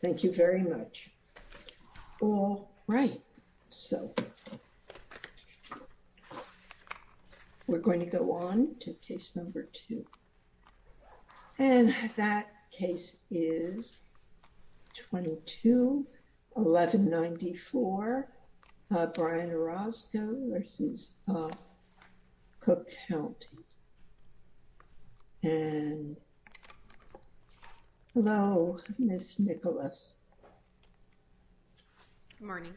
Thank you very much. All right, so we're going to go on to case number two. And that case is 22-1194, Brian Orozco v. Cook County. And, hello, Ms. Nicholas. Good morning.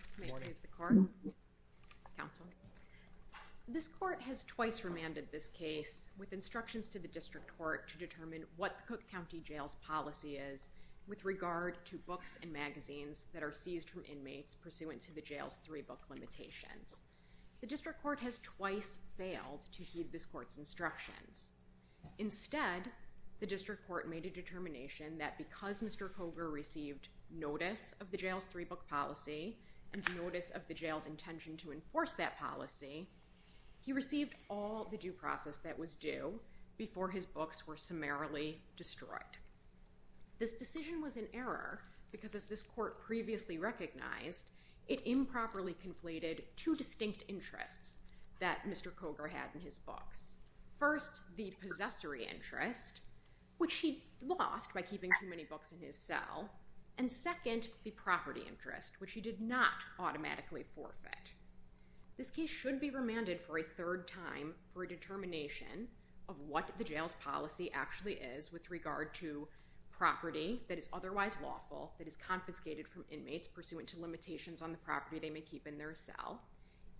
This court has twice remanded this case with instructions to the district court to determine what the Cook County jail's policy is with regard to books and magazines that are seized from inmates pursuant to the jail's three-book limitations. The district court has twice failed to heed this court's instructions. Instead, the district court made a determination that because Mr. Cogar received notice of the jail's three-book policy and notice of the jail's intention to enforce that policy, he received all the due process that was due before his books were summarily destroyed. This decision was in error because, as this court previously recognized, it improperly conflated two distinct interests that Mr. Cogar had in his books. First, the possessory interest, which he lost by keeping too many books in his cell, and second, the property interest, which he did not automatically forfeit. This case should be remanded for a third time for a determination of what the jail's policy actually is with regard to property that is otherwise lawful, that is confiscated from inmates pursuant to limitations on the property they may keep in their cell,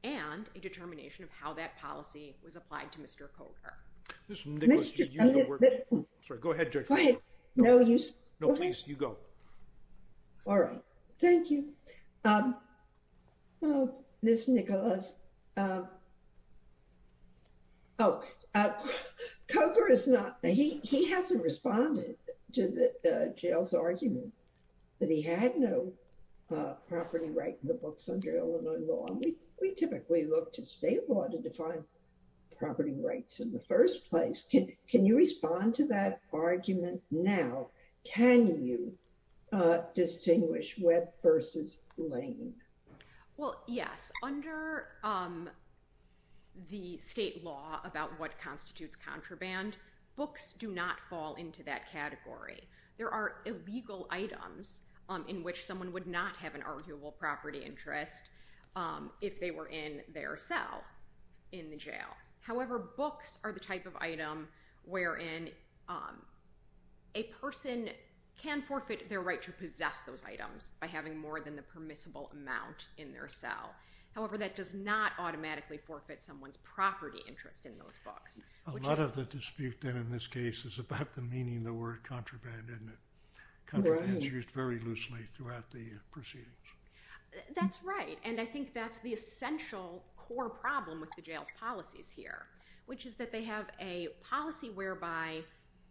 and a determination of how that policy was applied to Mr. Cogar. Ms. Nicholas, you used the word... Sorry, go ahead, Judge. No, please, you go. All right. Thank you. Ms. Nicholas. Oh, Cogar is not... He hasn't responded to the jail's argument that he had no property right in the books under Illinois law. We typically look to state law to define property rights in the first place. Can you respond to that argument now? Can you distinguish Webb versus Lane? Well, yes. Under the state law about what constitutes contraband, books do not fall into that category. There are illegal items in which someone would not have an arguable property interest if they were in their cell in the jail. However, books are the type of item wherein a person can forfeit their right to possess those items by having more than the permissible amount in their cell. However, that does not automatically forfeit someone's property interest in those books. A lot of the dispute then in this case is about the meaning of the word contraband, isn't it? Contraband is used very loosely throughout the proceedings. That's right. And I think that's the essential core problem with the jail's policies here, which is that they have a policy whereby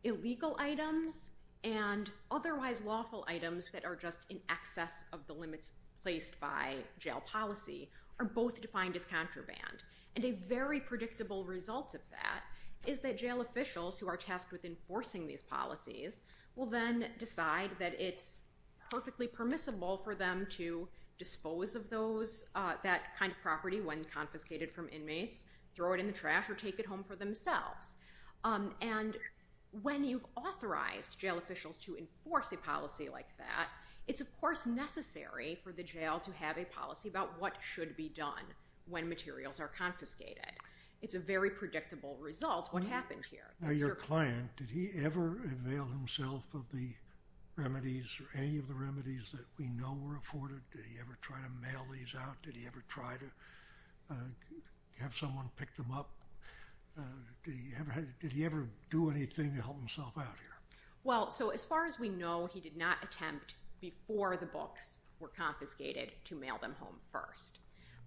illegal items and otherwise lawful items that are just in excess of the limits placed by jail policy are both defined as contraband. And a very predictable result of that is that jail officials who are tasked with enforcing these policies will then decide that it's perfectly permissible for them to dispose of that kind of property when confiscated from inmates, throw it in the trash, or take it home for themselves. And when you've authorized jail officials to enforce a policy like that, it's of course necessary for the jail to have a policy about what should be done when materials are confiscated. It's a very predictable result, what happened here. Now your client, did he ever avail himself of the remedies or any of the remedies that we know were afforded? Did he ever try to mail these out? Did he ever try to have someone pick them up? Did he ever do anything to help himself out here? Well, so as far as we know, he did not attempt, before the books were confiscated, to mail them home first.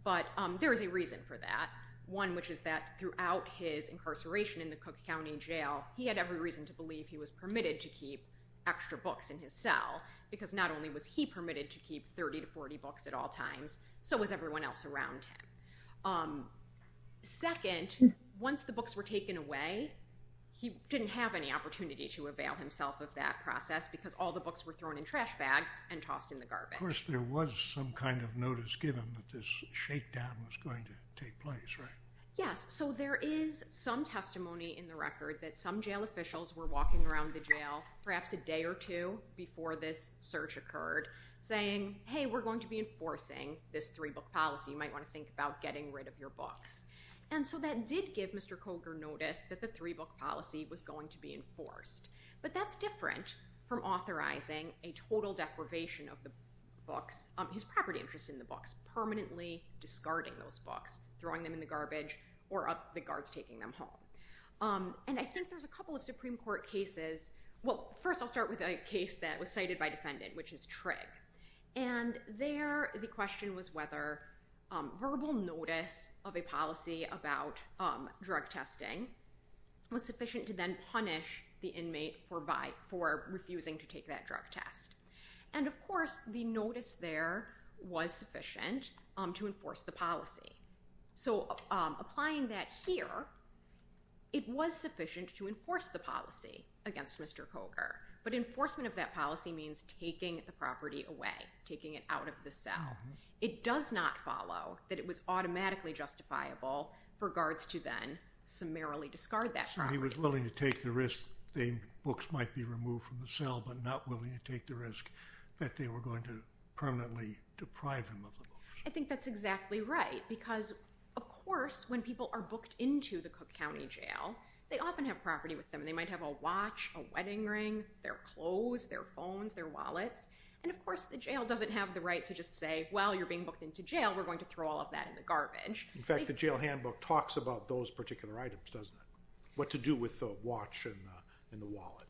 But there is a reason for that. One, which is that throughout his incarceration in the Cook County Jail, he had every reason to believe he was permitted to keep extra books in his cell, because not only was he permitted to keep 30 to 40 books at all times, so was everyone else around him. Second, once the books were taken away, he didn't have any opportunity to avail himself of that process, because all the books were thrown in trash bags and tossed in the garbage. Of course there was some kind of notice given that this shakedown was going to take place, right? Yes, so there is some testimony in the record that some jail officials were walking around the jail, perhaps a day or two before this search occurred, saying, hey, we're going to be enforcing this three-book policy, you might want to think about getting rid of your books. And so that did give Mr. Coger notice that the three-book policy was going to be enforced. But that's different from authorizing a total deprivation of the books, his property interest in the books, permanently discarding those books, throwing them in the garbage, or the guards taking them home. And I think there's a couple of Supreme Court cases, well, first I'll start with a case that was cited by a defendant, which is Trigg. And there the question was whether verbal notice of a policy about drug testing was sufficient to then punish the inmate for refusing to take that drug test. And of course the notice there was sufficient to enforce the policy. So applying that here, it was sufficient to enforce the policy against Mr. Coger. But enforcement of that policy means taking the property away, taking it out of the cell. It does not follow that it was automatically justifiable for guards to then summarily discard that property. So he was willing to take the risk, the books might be removed from the cell, but not willing to take the risk that they were going to permanently deprive him of the books. I think that's exactly right, because of course when people are booked into the Cook County Jail, they often have property with them. They might have a watch, a wedding ring, their clothes, their phones, their wallets. And of course the jail doesn't have the right to just say, well, you're being booked into jail, we're going to throw all of that in the garbage. In fact, the jail handbook talks about those particular items, doesn't it? What to do with the watch and the wallet.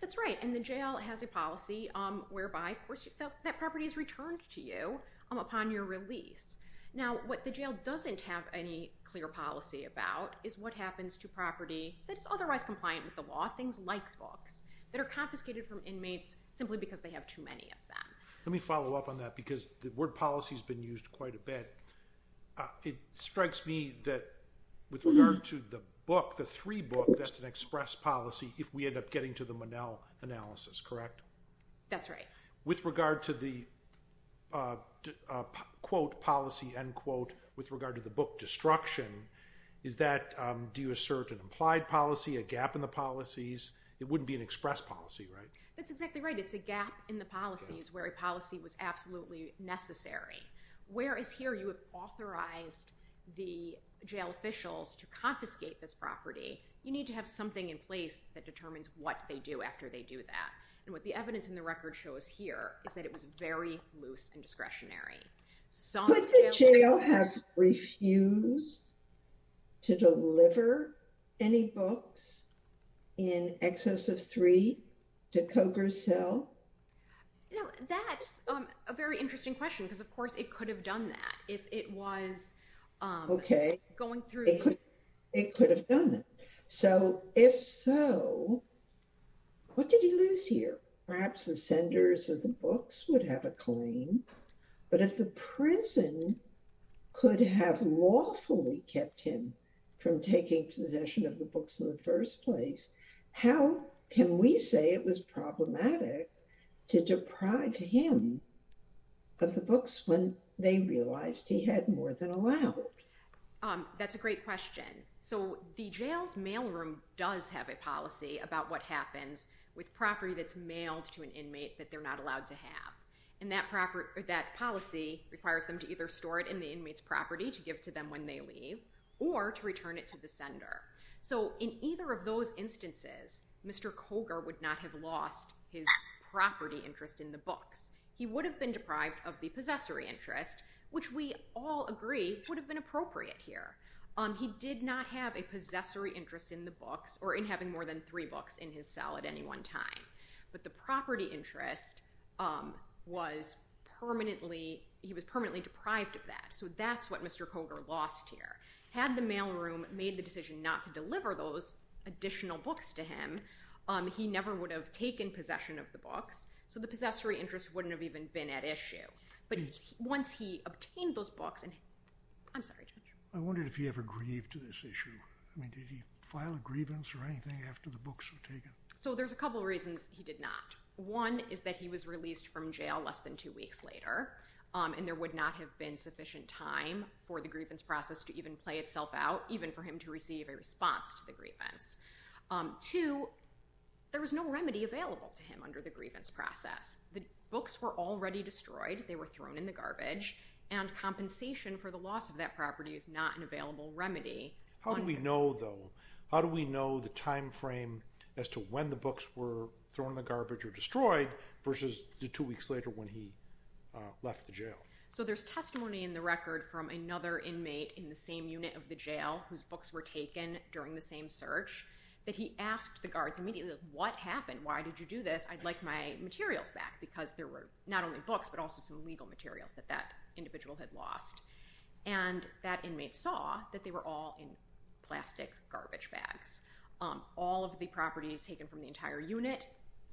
That's right, and the jail has a policy whereby that property is returned to you upon your release. Now, what the jail doesn't have any clear policy about is what happens to property that is otherwise compliant with the law, things like books, that are confiscated from inmates simply because they have too many of them. Let me follow up on that, because the word policy has been used quite a bit. It strikes me that with regard to the book, the three book, that's an express policy if we end up getting to the Monell analysis, correct? That's right. With regard to the, quote, policy, end quote, with regard to the book destruction, do you assert an implied policy, a gap in the policies? It wouldn't be an express policy, right? That's exactly right. It's a gap in the policies where a policy was absolutely necessary. Whereas here you have authorized the jail officials to confiscate this property, you need to have something in place that determines what they do after they do that. What the evidence in the record shows here is that it was very loose and discretionary. Could the jail have refused to deliver any books in excess of three to Cogar's cell? That's a very interesting question, because of course it could have done that if it was going through. It could have done it. So if so, what did he lose here? Perhaps the senders of the books would have a claim. But if the prison could have lawfully kept him from taking possession of the books in the first place, how can we say it was problematic to deprive him of the books when they realized he had more than allowed? That's a great question. So the jail's mailroom does have a policy about what happens with property that's mailed to an inmate that they're not allowed to have. And that policy requires them to either store it in the inmate's property to give to them when they leave or to return it to the sender. So in either of those instances, Mr. Cogar would not have lost his property interest in the books. He would have been deprived of the possessory interest, which we all agree would have been appropriate here. He did not have a possessory interest in the books or in having more than three books in his cell at any one time. But the property interest was permanently deprived of that. So that's what Mr. Cogar lost here. Had the mailroom made the decision not to deliver those additional books to him, he never would have taken possession of the books. So the possessory interest wouldn't have even been at issue. But once he obtained those books, and I'm sorry, Judge. I wondered if he ever grieved to this issue. I mean, did he file a grievance or anything after the books were taken? So there's a couple reasons he did not. One is that he was released from jail less than two weeks later, and there would not have been sufficient time for the grievance process to even play itself out, even for him to receive a response to the grievance. Two, there was no remedy available to him under the grievance process. The books were already destroyed. They were thrown in the garbage. And compensation for the loss of that property is not an available remedy. How do we know, though? How do we know the time frame as to when the books were thrown in the garbage or destroyed versus the two weeks later when he left the jail? So there's testimony in the record from another inmate in the same unit of the jail whose books were taken during the same search that he asked the guards immediately, what happened? Why did you do this? I'd like my materials back, because there were not only books but also some legal materials that that individual had lost. And that inmate saw that they were all in plastic garbage bags. All of the properties taken from the entire unit,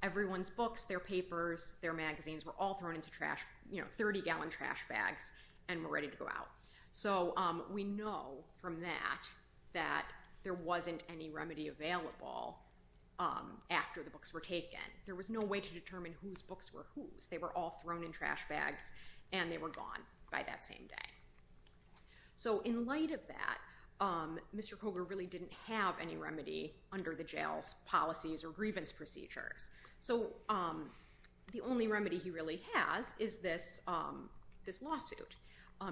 everyone's books, their papers, their magazines were all thrown into trash, you know, 30-gallon trash bags, and were ready to go out. So we know from that that there wasn't any remedy available after the books were taken. There was no way to determine whose books were whose. They were all thrown in trash bags, and they were gone by that same day. So in light of that, Mr. Koger really didn't have any remedy under the jail's policies or grievance procedures. So the only remedy he really has is this lawsuit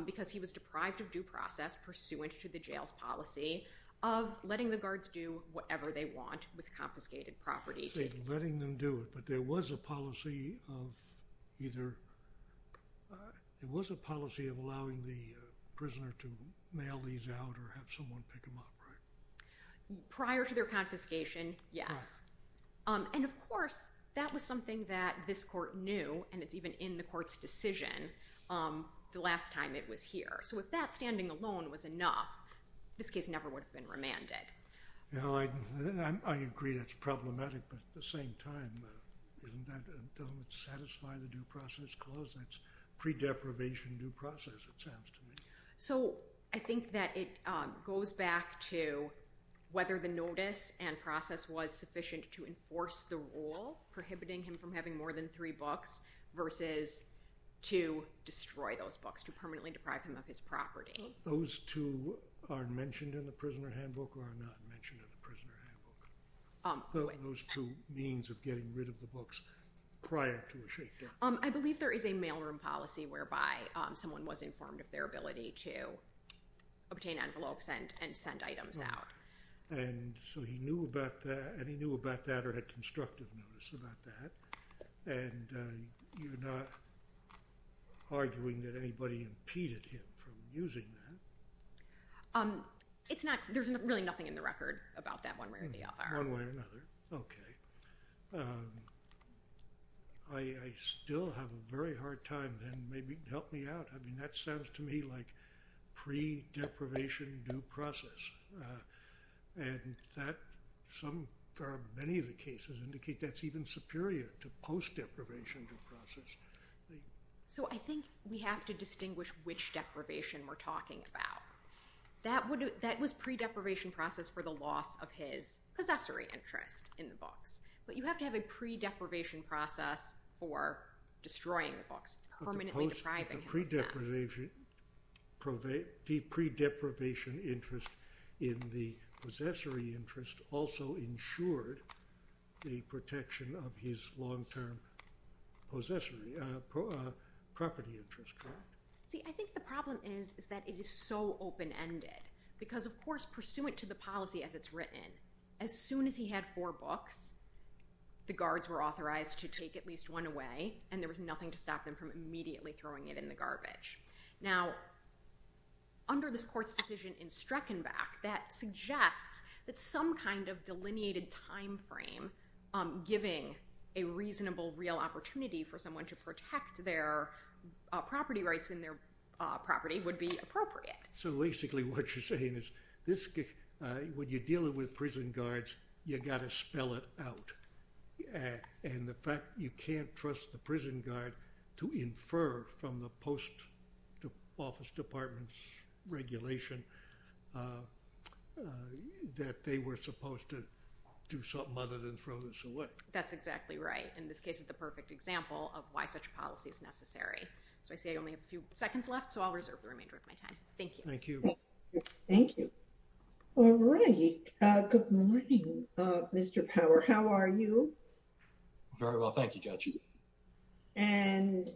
because he was deprived of due process pursuant to the jail's policy of letting the guards do whatever they want with confiscated property. See, letting them do it, but there was a policy of either it was a policy of allowing the prisoner to mail these out or have someone pick them up, right? Prior to their confiscation, yes. And of course, that was something that this court knew, and it's even in the court's decision. The last time it was here. So if that standing alone was enough, this case never would have been remanded. I agree that's problematic, but at the same time, doesn't that satisfy the due process clause? That's pre-deprivation due process, it sounds to me. So I think that it goes back to whether the notice and process was sufficient to enforce the rule prohibiting him from having more than three books versus to destroy those books, to permanently deprive him of his property. Those two are mentioned in the prisoner handbook or are not mentioned in the prisoner handbook? Those two means of getting rid of the books prior to a shake-down. I believe there is a mailroom policy whereby someone was informed of their ability to obtain envelopes and send items out. And so he knew about that, and he knew about that or had constructive notice about that. And you're not arguing that anybody impeded him from using that? There's really nothing in the record about that one way or the other. One way or another. Okay. I still have a very hard time then maybe help me out. I mean that sounds to me like pre-deprivation due process. And many of the cases indicate that's even superior to post-deprivation due process. So I think we have to distinguish which deprivation we're talking about. That was pre-deprivation process for the loss of his possessory interest in the books. But you have to have a pre-deprivation process for destroying the books, permanently depriving him of that. The pre-deprivation interest in the possessory interest also ensured the protection of his long-term possessory property interest, correct? See, I think the problem is that it is so open-ended because, of course, pursuant to the policy as it's written, as soon as he had four books, the guards were authorized to take at least one away, and there was nothing to stop them from immediately throwing it in the garbage. Now, under this court's decision in Streckenbach, that suggests that some kind of delineated time frame giving a reasonable real opportunity for someone to protect their property rights in their property would be appropriate. So basically what you're saying is when you're dealing with prison guards, you've got to spell it out. And the fact you can't trust the prison guard to infer from the post-office department's regulation that they were supposed to do something other than throw this away. That's exactly right. And this case is the perfect example of why such policy is necessary. So I see I only have a few seconds left, so I'll reserve the remainder of my time. Thank you. Thank you. All right. Good morning, Mr. Power. How are you? Very well. Thank you, Judge. And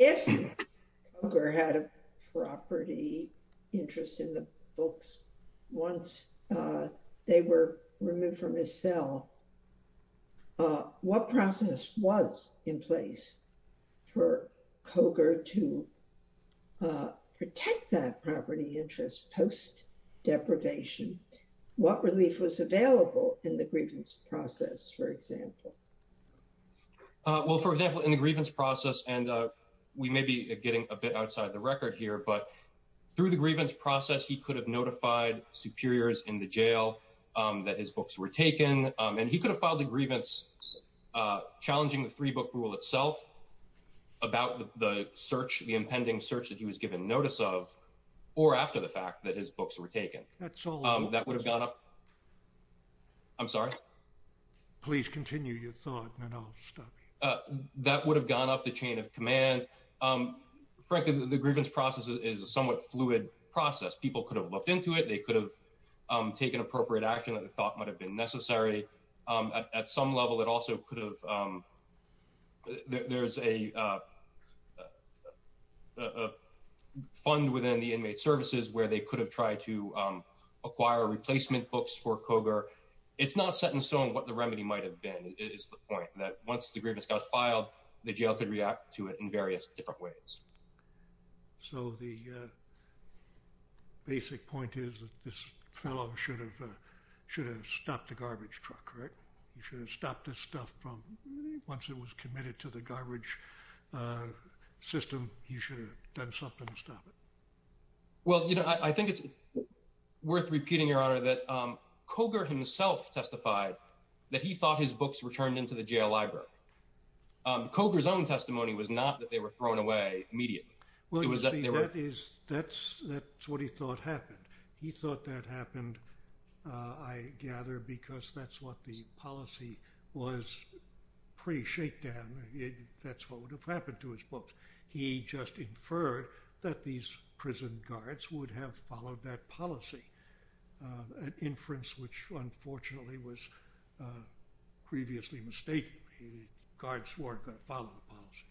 if Coger had a property interest in the books once they were removed from his cell, what process was in place for Coger to protect that property interest post-deprivation? What relief was available in the grievance process, for example? Well, for example, in the grievance process, and we may be getting a bit outside the record here, but through the grievance process, he could have notified superiors in the jail that his books were taken, and he could have filed a grievance challenging the three-book rule itself about the search, the impending search that he was given notice of, or after the fact that his books were taken. That's all. That would have gone up. I'm sorry? Please continue your thought, and then I'll stop you. That would have gone up the chain of command. Frankly, the grievance process is a somewhat fluid process. People could have looked into it. They could have taken appropriate action that they thought might have been necessary. At some level, it also could have ‑‑ there's a fund within the inmate services where they could have tried to acquire replacement books for Koger. It's not set in stone what the remedy might have been, is the point, that once the grievance got filed, the jail could react to it in various different ways. So the basic point is that this fellow should have stopped the garbage truck, right? He should have stopped this stuff from, once it was committed to the garbage system, he should have done something to stop it. Well, you know, I think it's worth repeating, Your Honor, that Koger himself testified that he thought his books returned into the jail library. Koger's own testimony was not that they were thrown away immediately. Well, you see, that's what he thought happened. He thought that happened, I gather, because that's what the policy was pre-shakedown. That's what would have happened to his books. He just inferred that these prison guards would have followed that policy, an inference which, unfortunately, was previously mistaken. The guards weren't going to follow the policy.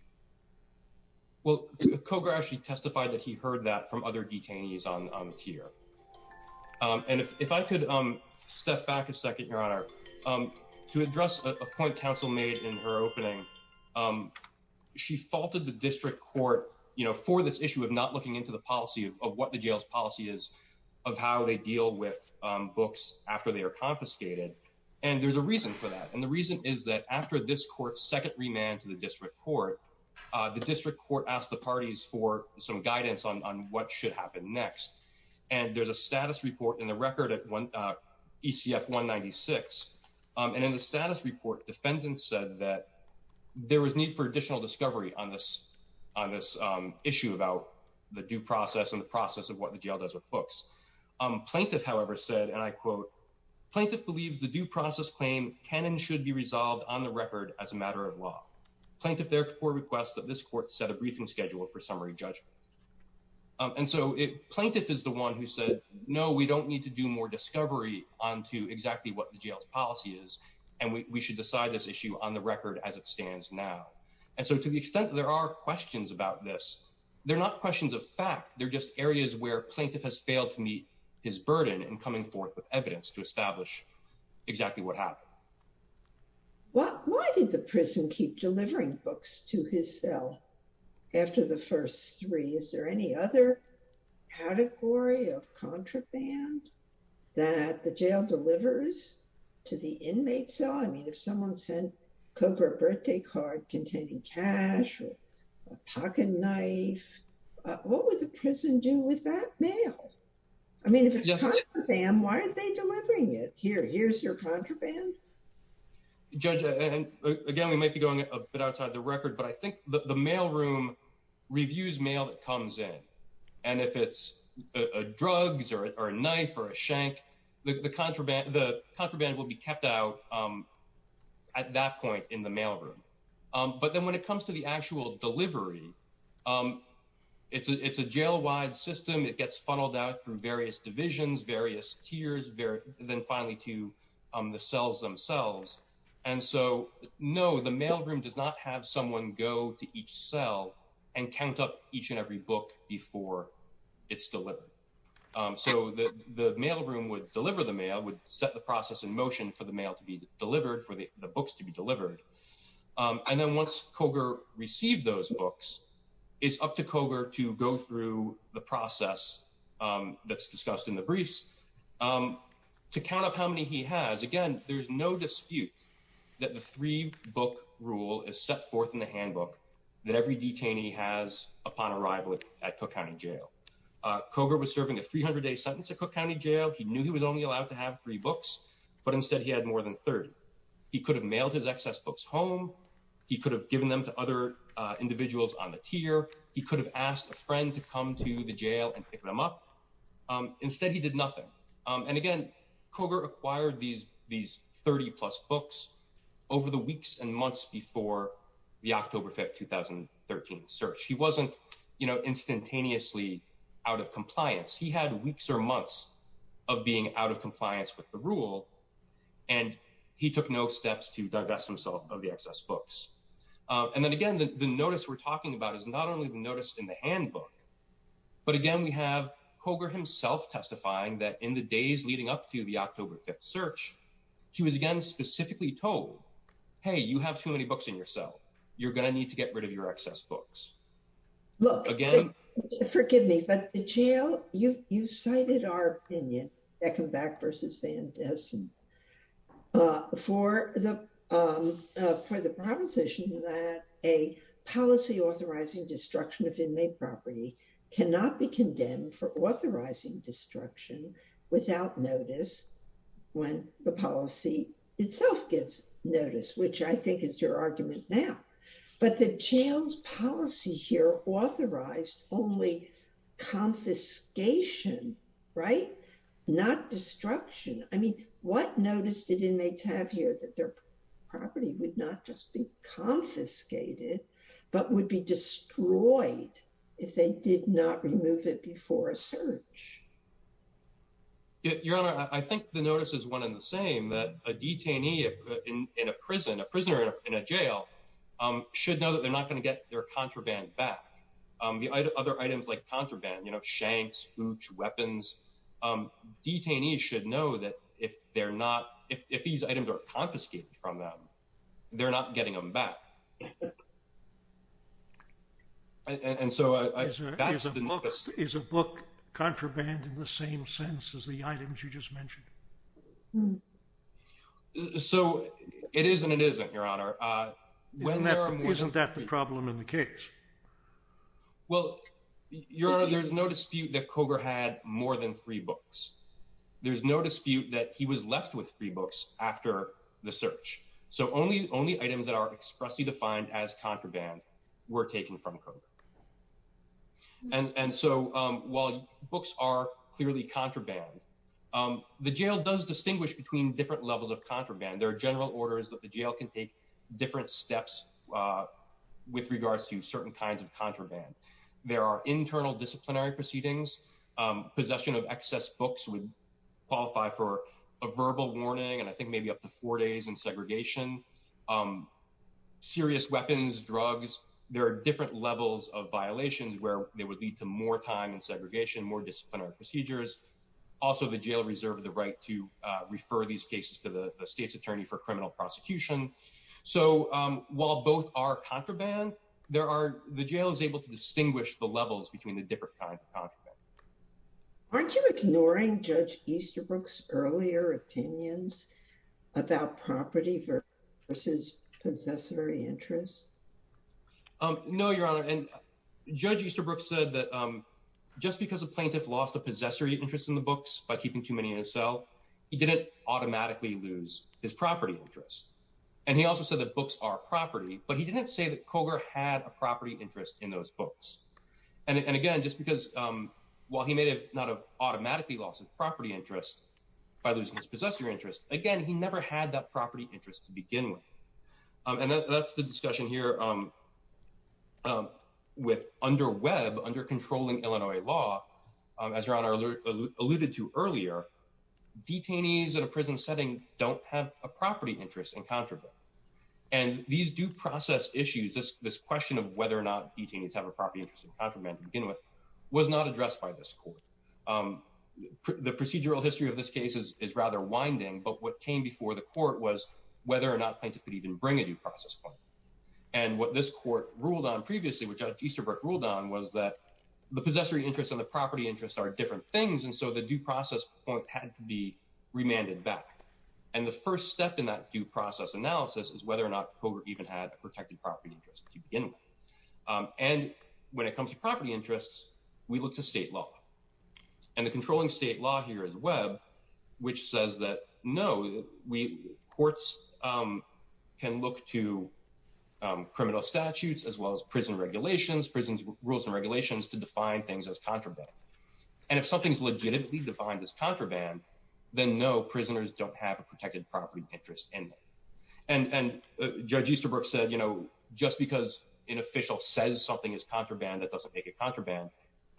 Well, Koger actually testified that he heard that from other detainees on the tier. And if I could step back a second, Your Honor, to address a point counsel made in her opening, she faulted the district court for this issue of not looking into the policy of what the jail's policy is, of how they deal with books after they are confiscated. And there's a reason for that. And the reason is that after this court's second remand to the district court, the district court asked the parties for some guidance on what should happen next. And there's a status report in the record at ECF 196. And in the status report, defendants said that there was need for additional discovery on this issue about the due process and the process of what the jail does with books. Plaintiff, however, said, and I quote, Plaintiff believes the due process claim can and should be resolved on the record as a matter of law. Plaintiff therefore requests that this court set a briefing schedule for summary judgment. And so Plaintiff is the one who said, no, we don't need to do more discovery onto exactly what the jail's policy is. And we should decide this issue on the record as it stands now. And so to the extent there are questions about this, they're not questions of fact. They're just areas where Plaintiff has failed to meet his burden in coming forth with evidence to establish exactly what happened. Why did the prison keep delivering books to his cell after the first three? Is there any other category of contraband that the jail delivers to the inmate cell? I mean, if someone sent a Cobra birthday card containing cash or a pocket knife, what would the prison do with that mail? I mean, if it's contraband, why aren't they delivering it? Here, here's your contraband. And again, we might be going a bit outside the record, but I think the mailroom reviews mail that comes in. And if it's drugs or a knife or a shank, the contraband, the contraband will be kept out at that point in the mailroom. But then when it comes to the actual delivery, it's a jail wide system. It gets funneled out through various divisions, various tiers, then finally to the cells themselves. And so, no, the mailroom does not have someone go to each cell and count up each and every book before it's delivered. So the mailroom would deliver the mail, would set the process in motion for the mail to be delivered, for the books to be delivered. And then once Cogar received those books, it's up to Cogar to go through the process that's discussed in the briefs to count up how many he has. Again, there's no dispute that the three book rule is set forth in the handbook that every detainee has upon arrival at Cook County Jail. Cogar was serving a 300 day sentence at Cook County Jail. He knew he was only allowed to have three books, but instead he had more than 30. He could have mailed his excess books home. He could have given them to other individuals on the tier. He could have asked a friend to come to the jail and pick them up. Instead, he did nothing. And again, Cogar acquired these these 30 plus books over the weeks and months before the October 5th, 2013 search. He wasn't, you know, instantaneously out of compliance. He had weeks or months of being out of compliance with the rule, and he took no steps to divest himself of the excess books. And then again, the notice we're talking about is not only the notice in the handbook, but again, we have Cogar himself testifying that in the days leading up to the October 5th search, he was again specifically told, hey, you have too many books in your cell. You're going to need to get rid of your excess books. Look, forgive me, but the jail, you cited our opinion, Beckenbach versus Van Dessen, for the proposition that a policy authorizing destruction of inmate property cannot be condemned for authorizing destruction without notice when the policy itself gets noticed, which I think is your argument now. But the jail's policy here authorized only confiscation, right? Not destruction. I mean, what notice did inmates have here that their property would not just be confiscated, but would be destroyed if they did not remove it before a search? Your Honor, I think the notice is one in the same, that a detainee in a prison, a prisoner in a jail, should know that they're not going to get their contraband back. The other items like contraband, shanks, boots, weapons, detainees should know that if they're not, if these items are confiscated from them, they're not getting them back. And so that's the notice. Is a book contraband in the same sense as the items you just mentioned? So it is and it isn't, Your Honor. Isn't that the problem in the case? Well, Your Honor, there's no dispute that Cogar had more than three books. There's no dispute that he was left with three books after the search. So only items that are expressly defined as contraband were taken from Cogar. And so while books are clearly contraband, the jail does distinguish between different levels of contraband. There are general orders that the jail can take different steps with regards to certain kinds of contraband. There are internal disciplinary proceedings. Possession of excess books would qualify for a verbal warning. And I think maybe up to four days in segregation. Serious weapons, drugs. There are different levels of violations where they would lead to more time and segregation, more disciplinary procedures. Also, the jail reserve the right to refer these cases to the state's attorney for criminal prosecution. So while both are contraband, the jail is able to distinguish the levels between the different kinds of contraband. Aren't you ignoring Judge Easterbrook's earlier opinions about property versus possessory interest? No, Your Honor. And Judge Easterbrook said that just because a plaintiff lost a possessory interest in the books by keeping too many in a cell, he didn't automatically lose his property interest. And he also said that books are property. But he didn't say that Cogar had a property interest in those books. And again, just because while he may have not automatically lost his property interest by losing his possessory interest. Again, he never had that property interest to begin with. And that's the discussion here with under web, under controlling Illinois law. As Your Honor alluded to earlier, detainees in a prison setting don't have a property interest in contraband. And these due process issues, this question of whether or not detainees have a property interest in contraband to begin with, was not addressed by this court. The procedural history of this case is rather winding. But what came before the court was whether or not plaintiffs could even bring a due process point. And what this court ruled on previously, which Easterbrook ruled on, was that the possessory interest and the property interest are different things. And so the due process point had to be remanded back. And the first step in that due process analysis is whether or not Cogar even had a protected property interest to begin with. And when it comes to property interests, we look to state law. And the controlling state law here is web, which says that no, courts can look to criminal statutes as well as prison regulations, prison rules and regulations to define things as contraband. And if something's legitimately defined as contraband, then no, prisoners don't have a protected property interest in them. And Judge Easterbrook said, you know, just because an official says something is contraband, that doesn't make it contraband.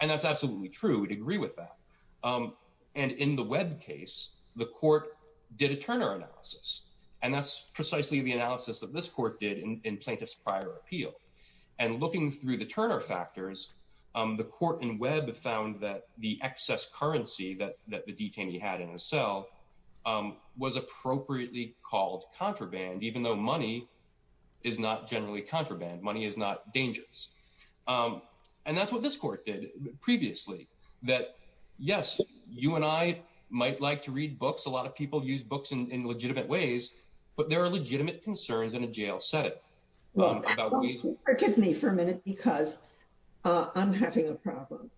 And that's absolutely true. We'd agree with that. And in the web case, the court did a Turner analysis. And that's precisely the analysis that this court did in plaintiff's prior appeal. And looking through the Turner factors, the court in web found that the excess currency that the detainee had in his cell was appropriately called contraband, even though money is not generally contraband, money is not dangerous. And that's what this court did previously, that, yes, you and I might like to read books, a lot of people use books in legitimate ways, but there are legitimate concerns in a jail setting. Forgive me for a minute because I'm having a problem.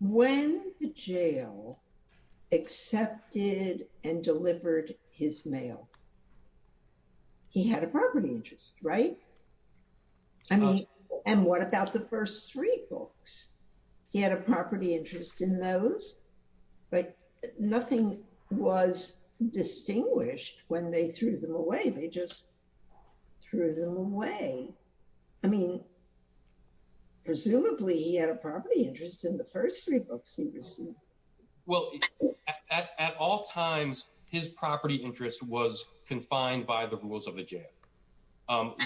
When the jail accepted and delivered his mail. He had a property interest, right? I mean, and what about the first three books? He had a property interest in those, but nothing was distinguished when they threw them away, they just threw them away. I mean, presumably he had a property interest in the first three books he received. Well, at all times, his property interest was confined by the rules of the jail.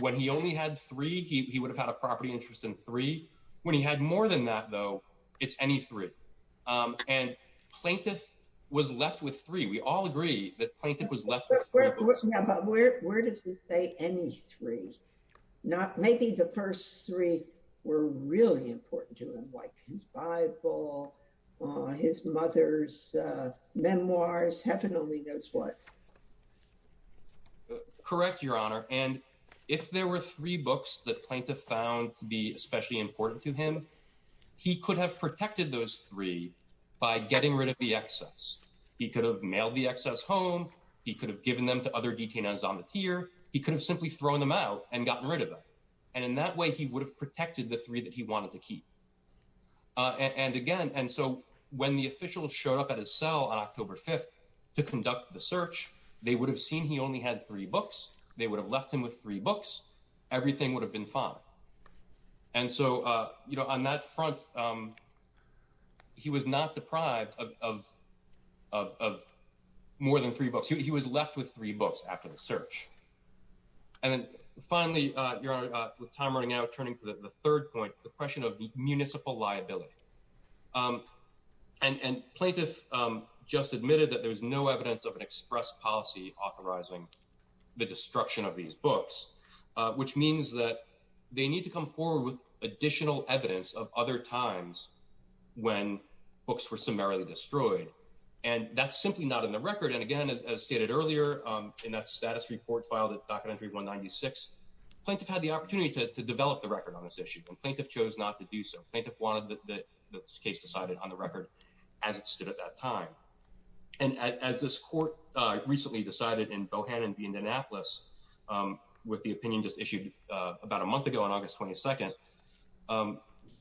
When he only had three, he would have had a property interest in three. When he had more than that, though, it's any three. And plaintiff was left with three. We all agree that plaintiff was left with three books. But where did he say any three? Maybe the first three were really important to him, like his Bible, his mother's memoirs, heaven only knows what. Correct, Your Honor. And if there were three books that plaintiff found to be especially important to him, he could have protected those three by getting rid of the excess. He could have mailed the excess home. He could have given them to other detainees on the tier. He could have simply thrown them out and gotten rid of them. And in that way, he would have protected the three that he wanted to keep. And again, and so when the officials showed up at his cell on October 5th to conduct the search, they would have seen he only had three books. They would have left him with three books. Everything would have been fine. And so, you know, on that front, he was not deprived of more than three books. He was left with three books after the search. And then finally, Your Honor, with time running out, turning to the third point, the question of municipal liability. And plaintiff just admitted that there was no evidence of an express policy authorizing the destruction of these books, which means that they need to come forward with additional evidence of other times when books were summarily destroyed. And that's simply not in the record. And again, as stated earlier in that status report filed at Docker entry 196, plaintiff had the opportunity to develop the record on this issue. And plaintiff chose not to do so. Plaintiff wanted the case decided on the record as it stood at that time. And as this court recently decided in Bohannon in Indianapolis with the opinion just issued about a month ago on August 22nd,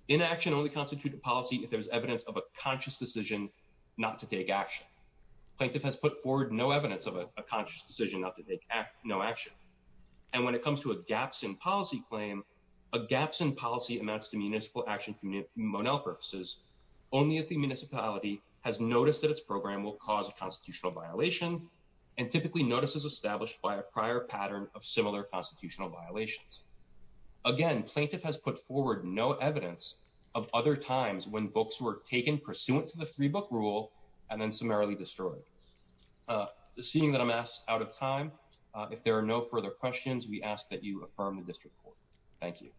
inaction only constitute a policy if there's evidence of a conscious decision not to take action. Plaintiff has put forward no evidence of a conscious decision not to take no action. And when it comes to a gaps in policy claim, a gaps in policy amounts to municipal action from Monell purposes only if the municipality has noticed that its program will cause a constitutional violation and typically notices established by a prior pattern of similar constitutional violations. Again, plaintiff has put forward no evidence of other times when books were taken pursuant to the free book rule and then summarily destroyed. Seeing that I'm asked out of time. If there are no further questions, we ask that you affirm the district court. Thank you.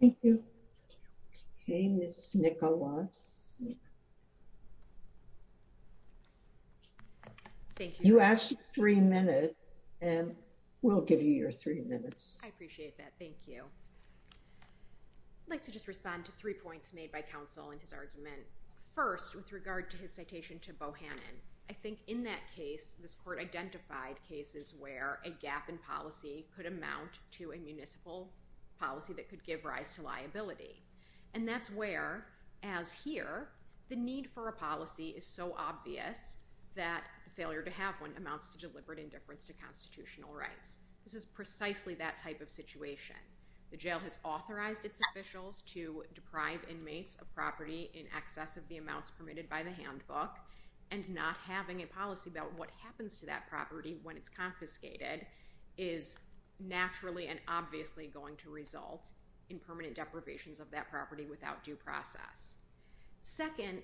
Thank you. Hey, Nicholas. You asked three minutes, and we'll give you your three minutes. I appreciate that. Thank you. Like to just respond to three points made by counsel and his argument. First, with regard to his citation to Bohannon, I think in that case, this court identified cases where a gap in policy could amount to a municipal policy that could give rise to liability. And that's where, as here, the need for a policy is so obvious that failure to have one amounts to deliberate indifference to constitutional rights. This is precisely that type of situation. The jail has authorized its officials to deprive inmates of property in excess of the amounts permitted by the handbook and not having a policy about what happens to that property when it's confiscated is naturally and obviously going to result in permanent deprivations of that property without due process. Second,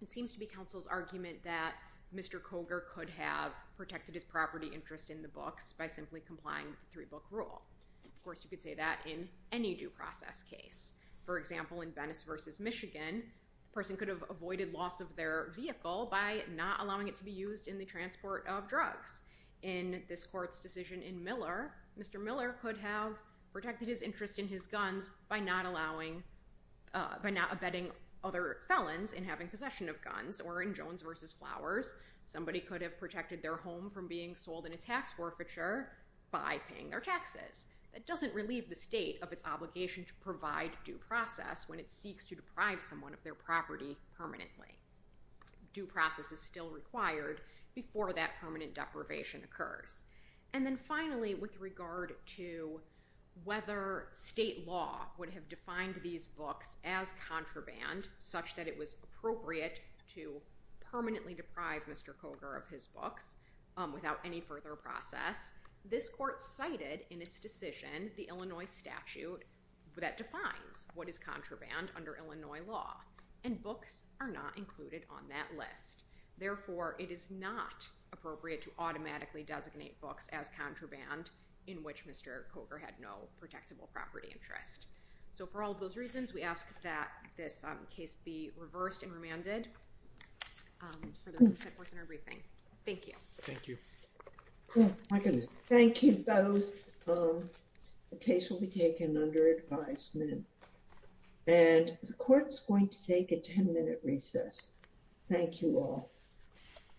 it seems to be counsel's argument that Mr. Coger could have protected his property interest in the books by simply complying with the three-book rule. Of course, you could say that in any due process case. For example, in Venice versus Michigan, the person could have avoided loss of their vehicle by not allowing it to be used in the transport of drugs. In this court's decision in Miller, Mr. Miller could have protected his interest in his guns by not abetting other felons in having possession of guns. Or in Jones versus Flowers, somebody could have protected their home from being sold in a tax forfeiture by paying their taxes. That doesn't relieve the state of its obligation to provide due process when it seeks to deprive someone of their property permanently. Due process is still required before that permanent deprivation occurs. And then finally, with regard to whether state law would have defined these books as contraband such that it was appropriate to permanently deprive Mr. Coger of his books without any further process, this court cited in its decision the Illinois statute that defines what is contraband under Illinois law. And books are not included on that list. Therefore, it is not appropriate to automatically designate books as contraband in which Mr. Coger had no protectable property interest. So for all of those reasons, we ask that this case be reversed and remanded for those who sent forth in our briefing. Thank you. Thank you. Thank you both. The case will be taken under advisement. And the court's going to take a 10-minute recess. Thank you all.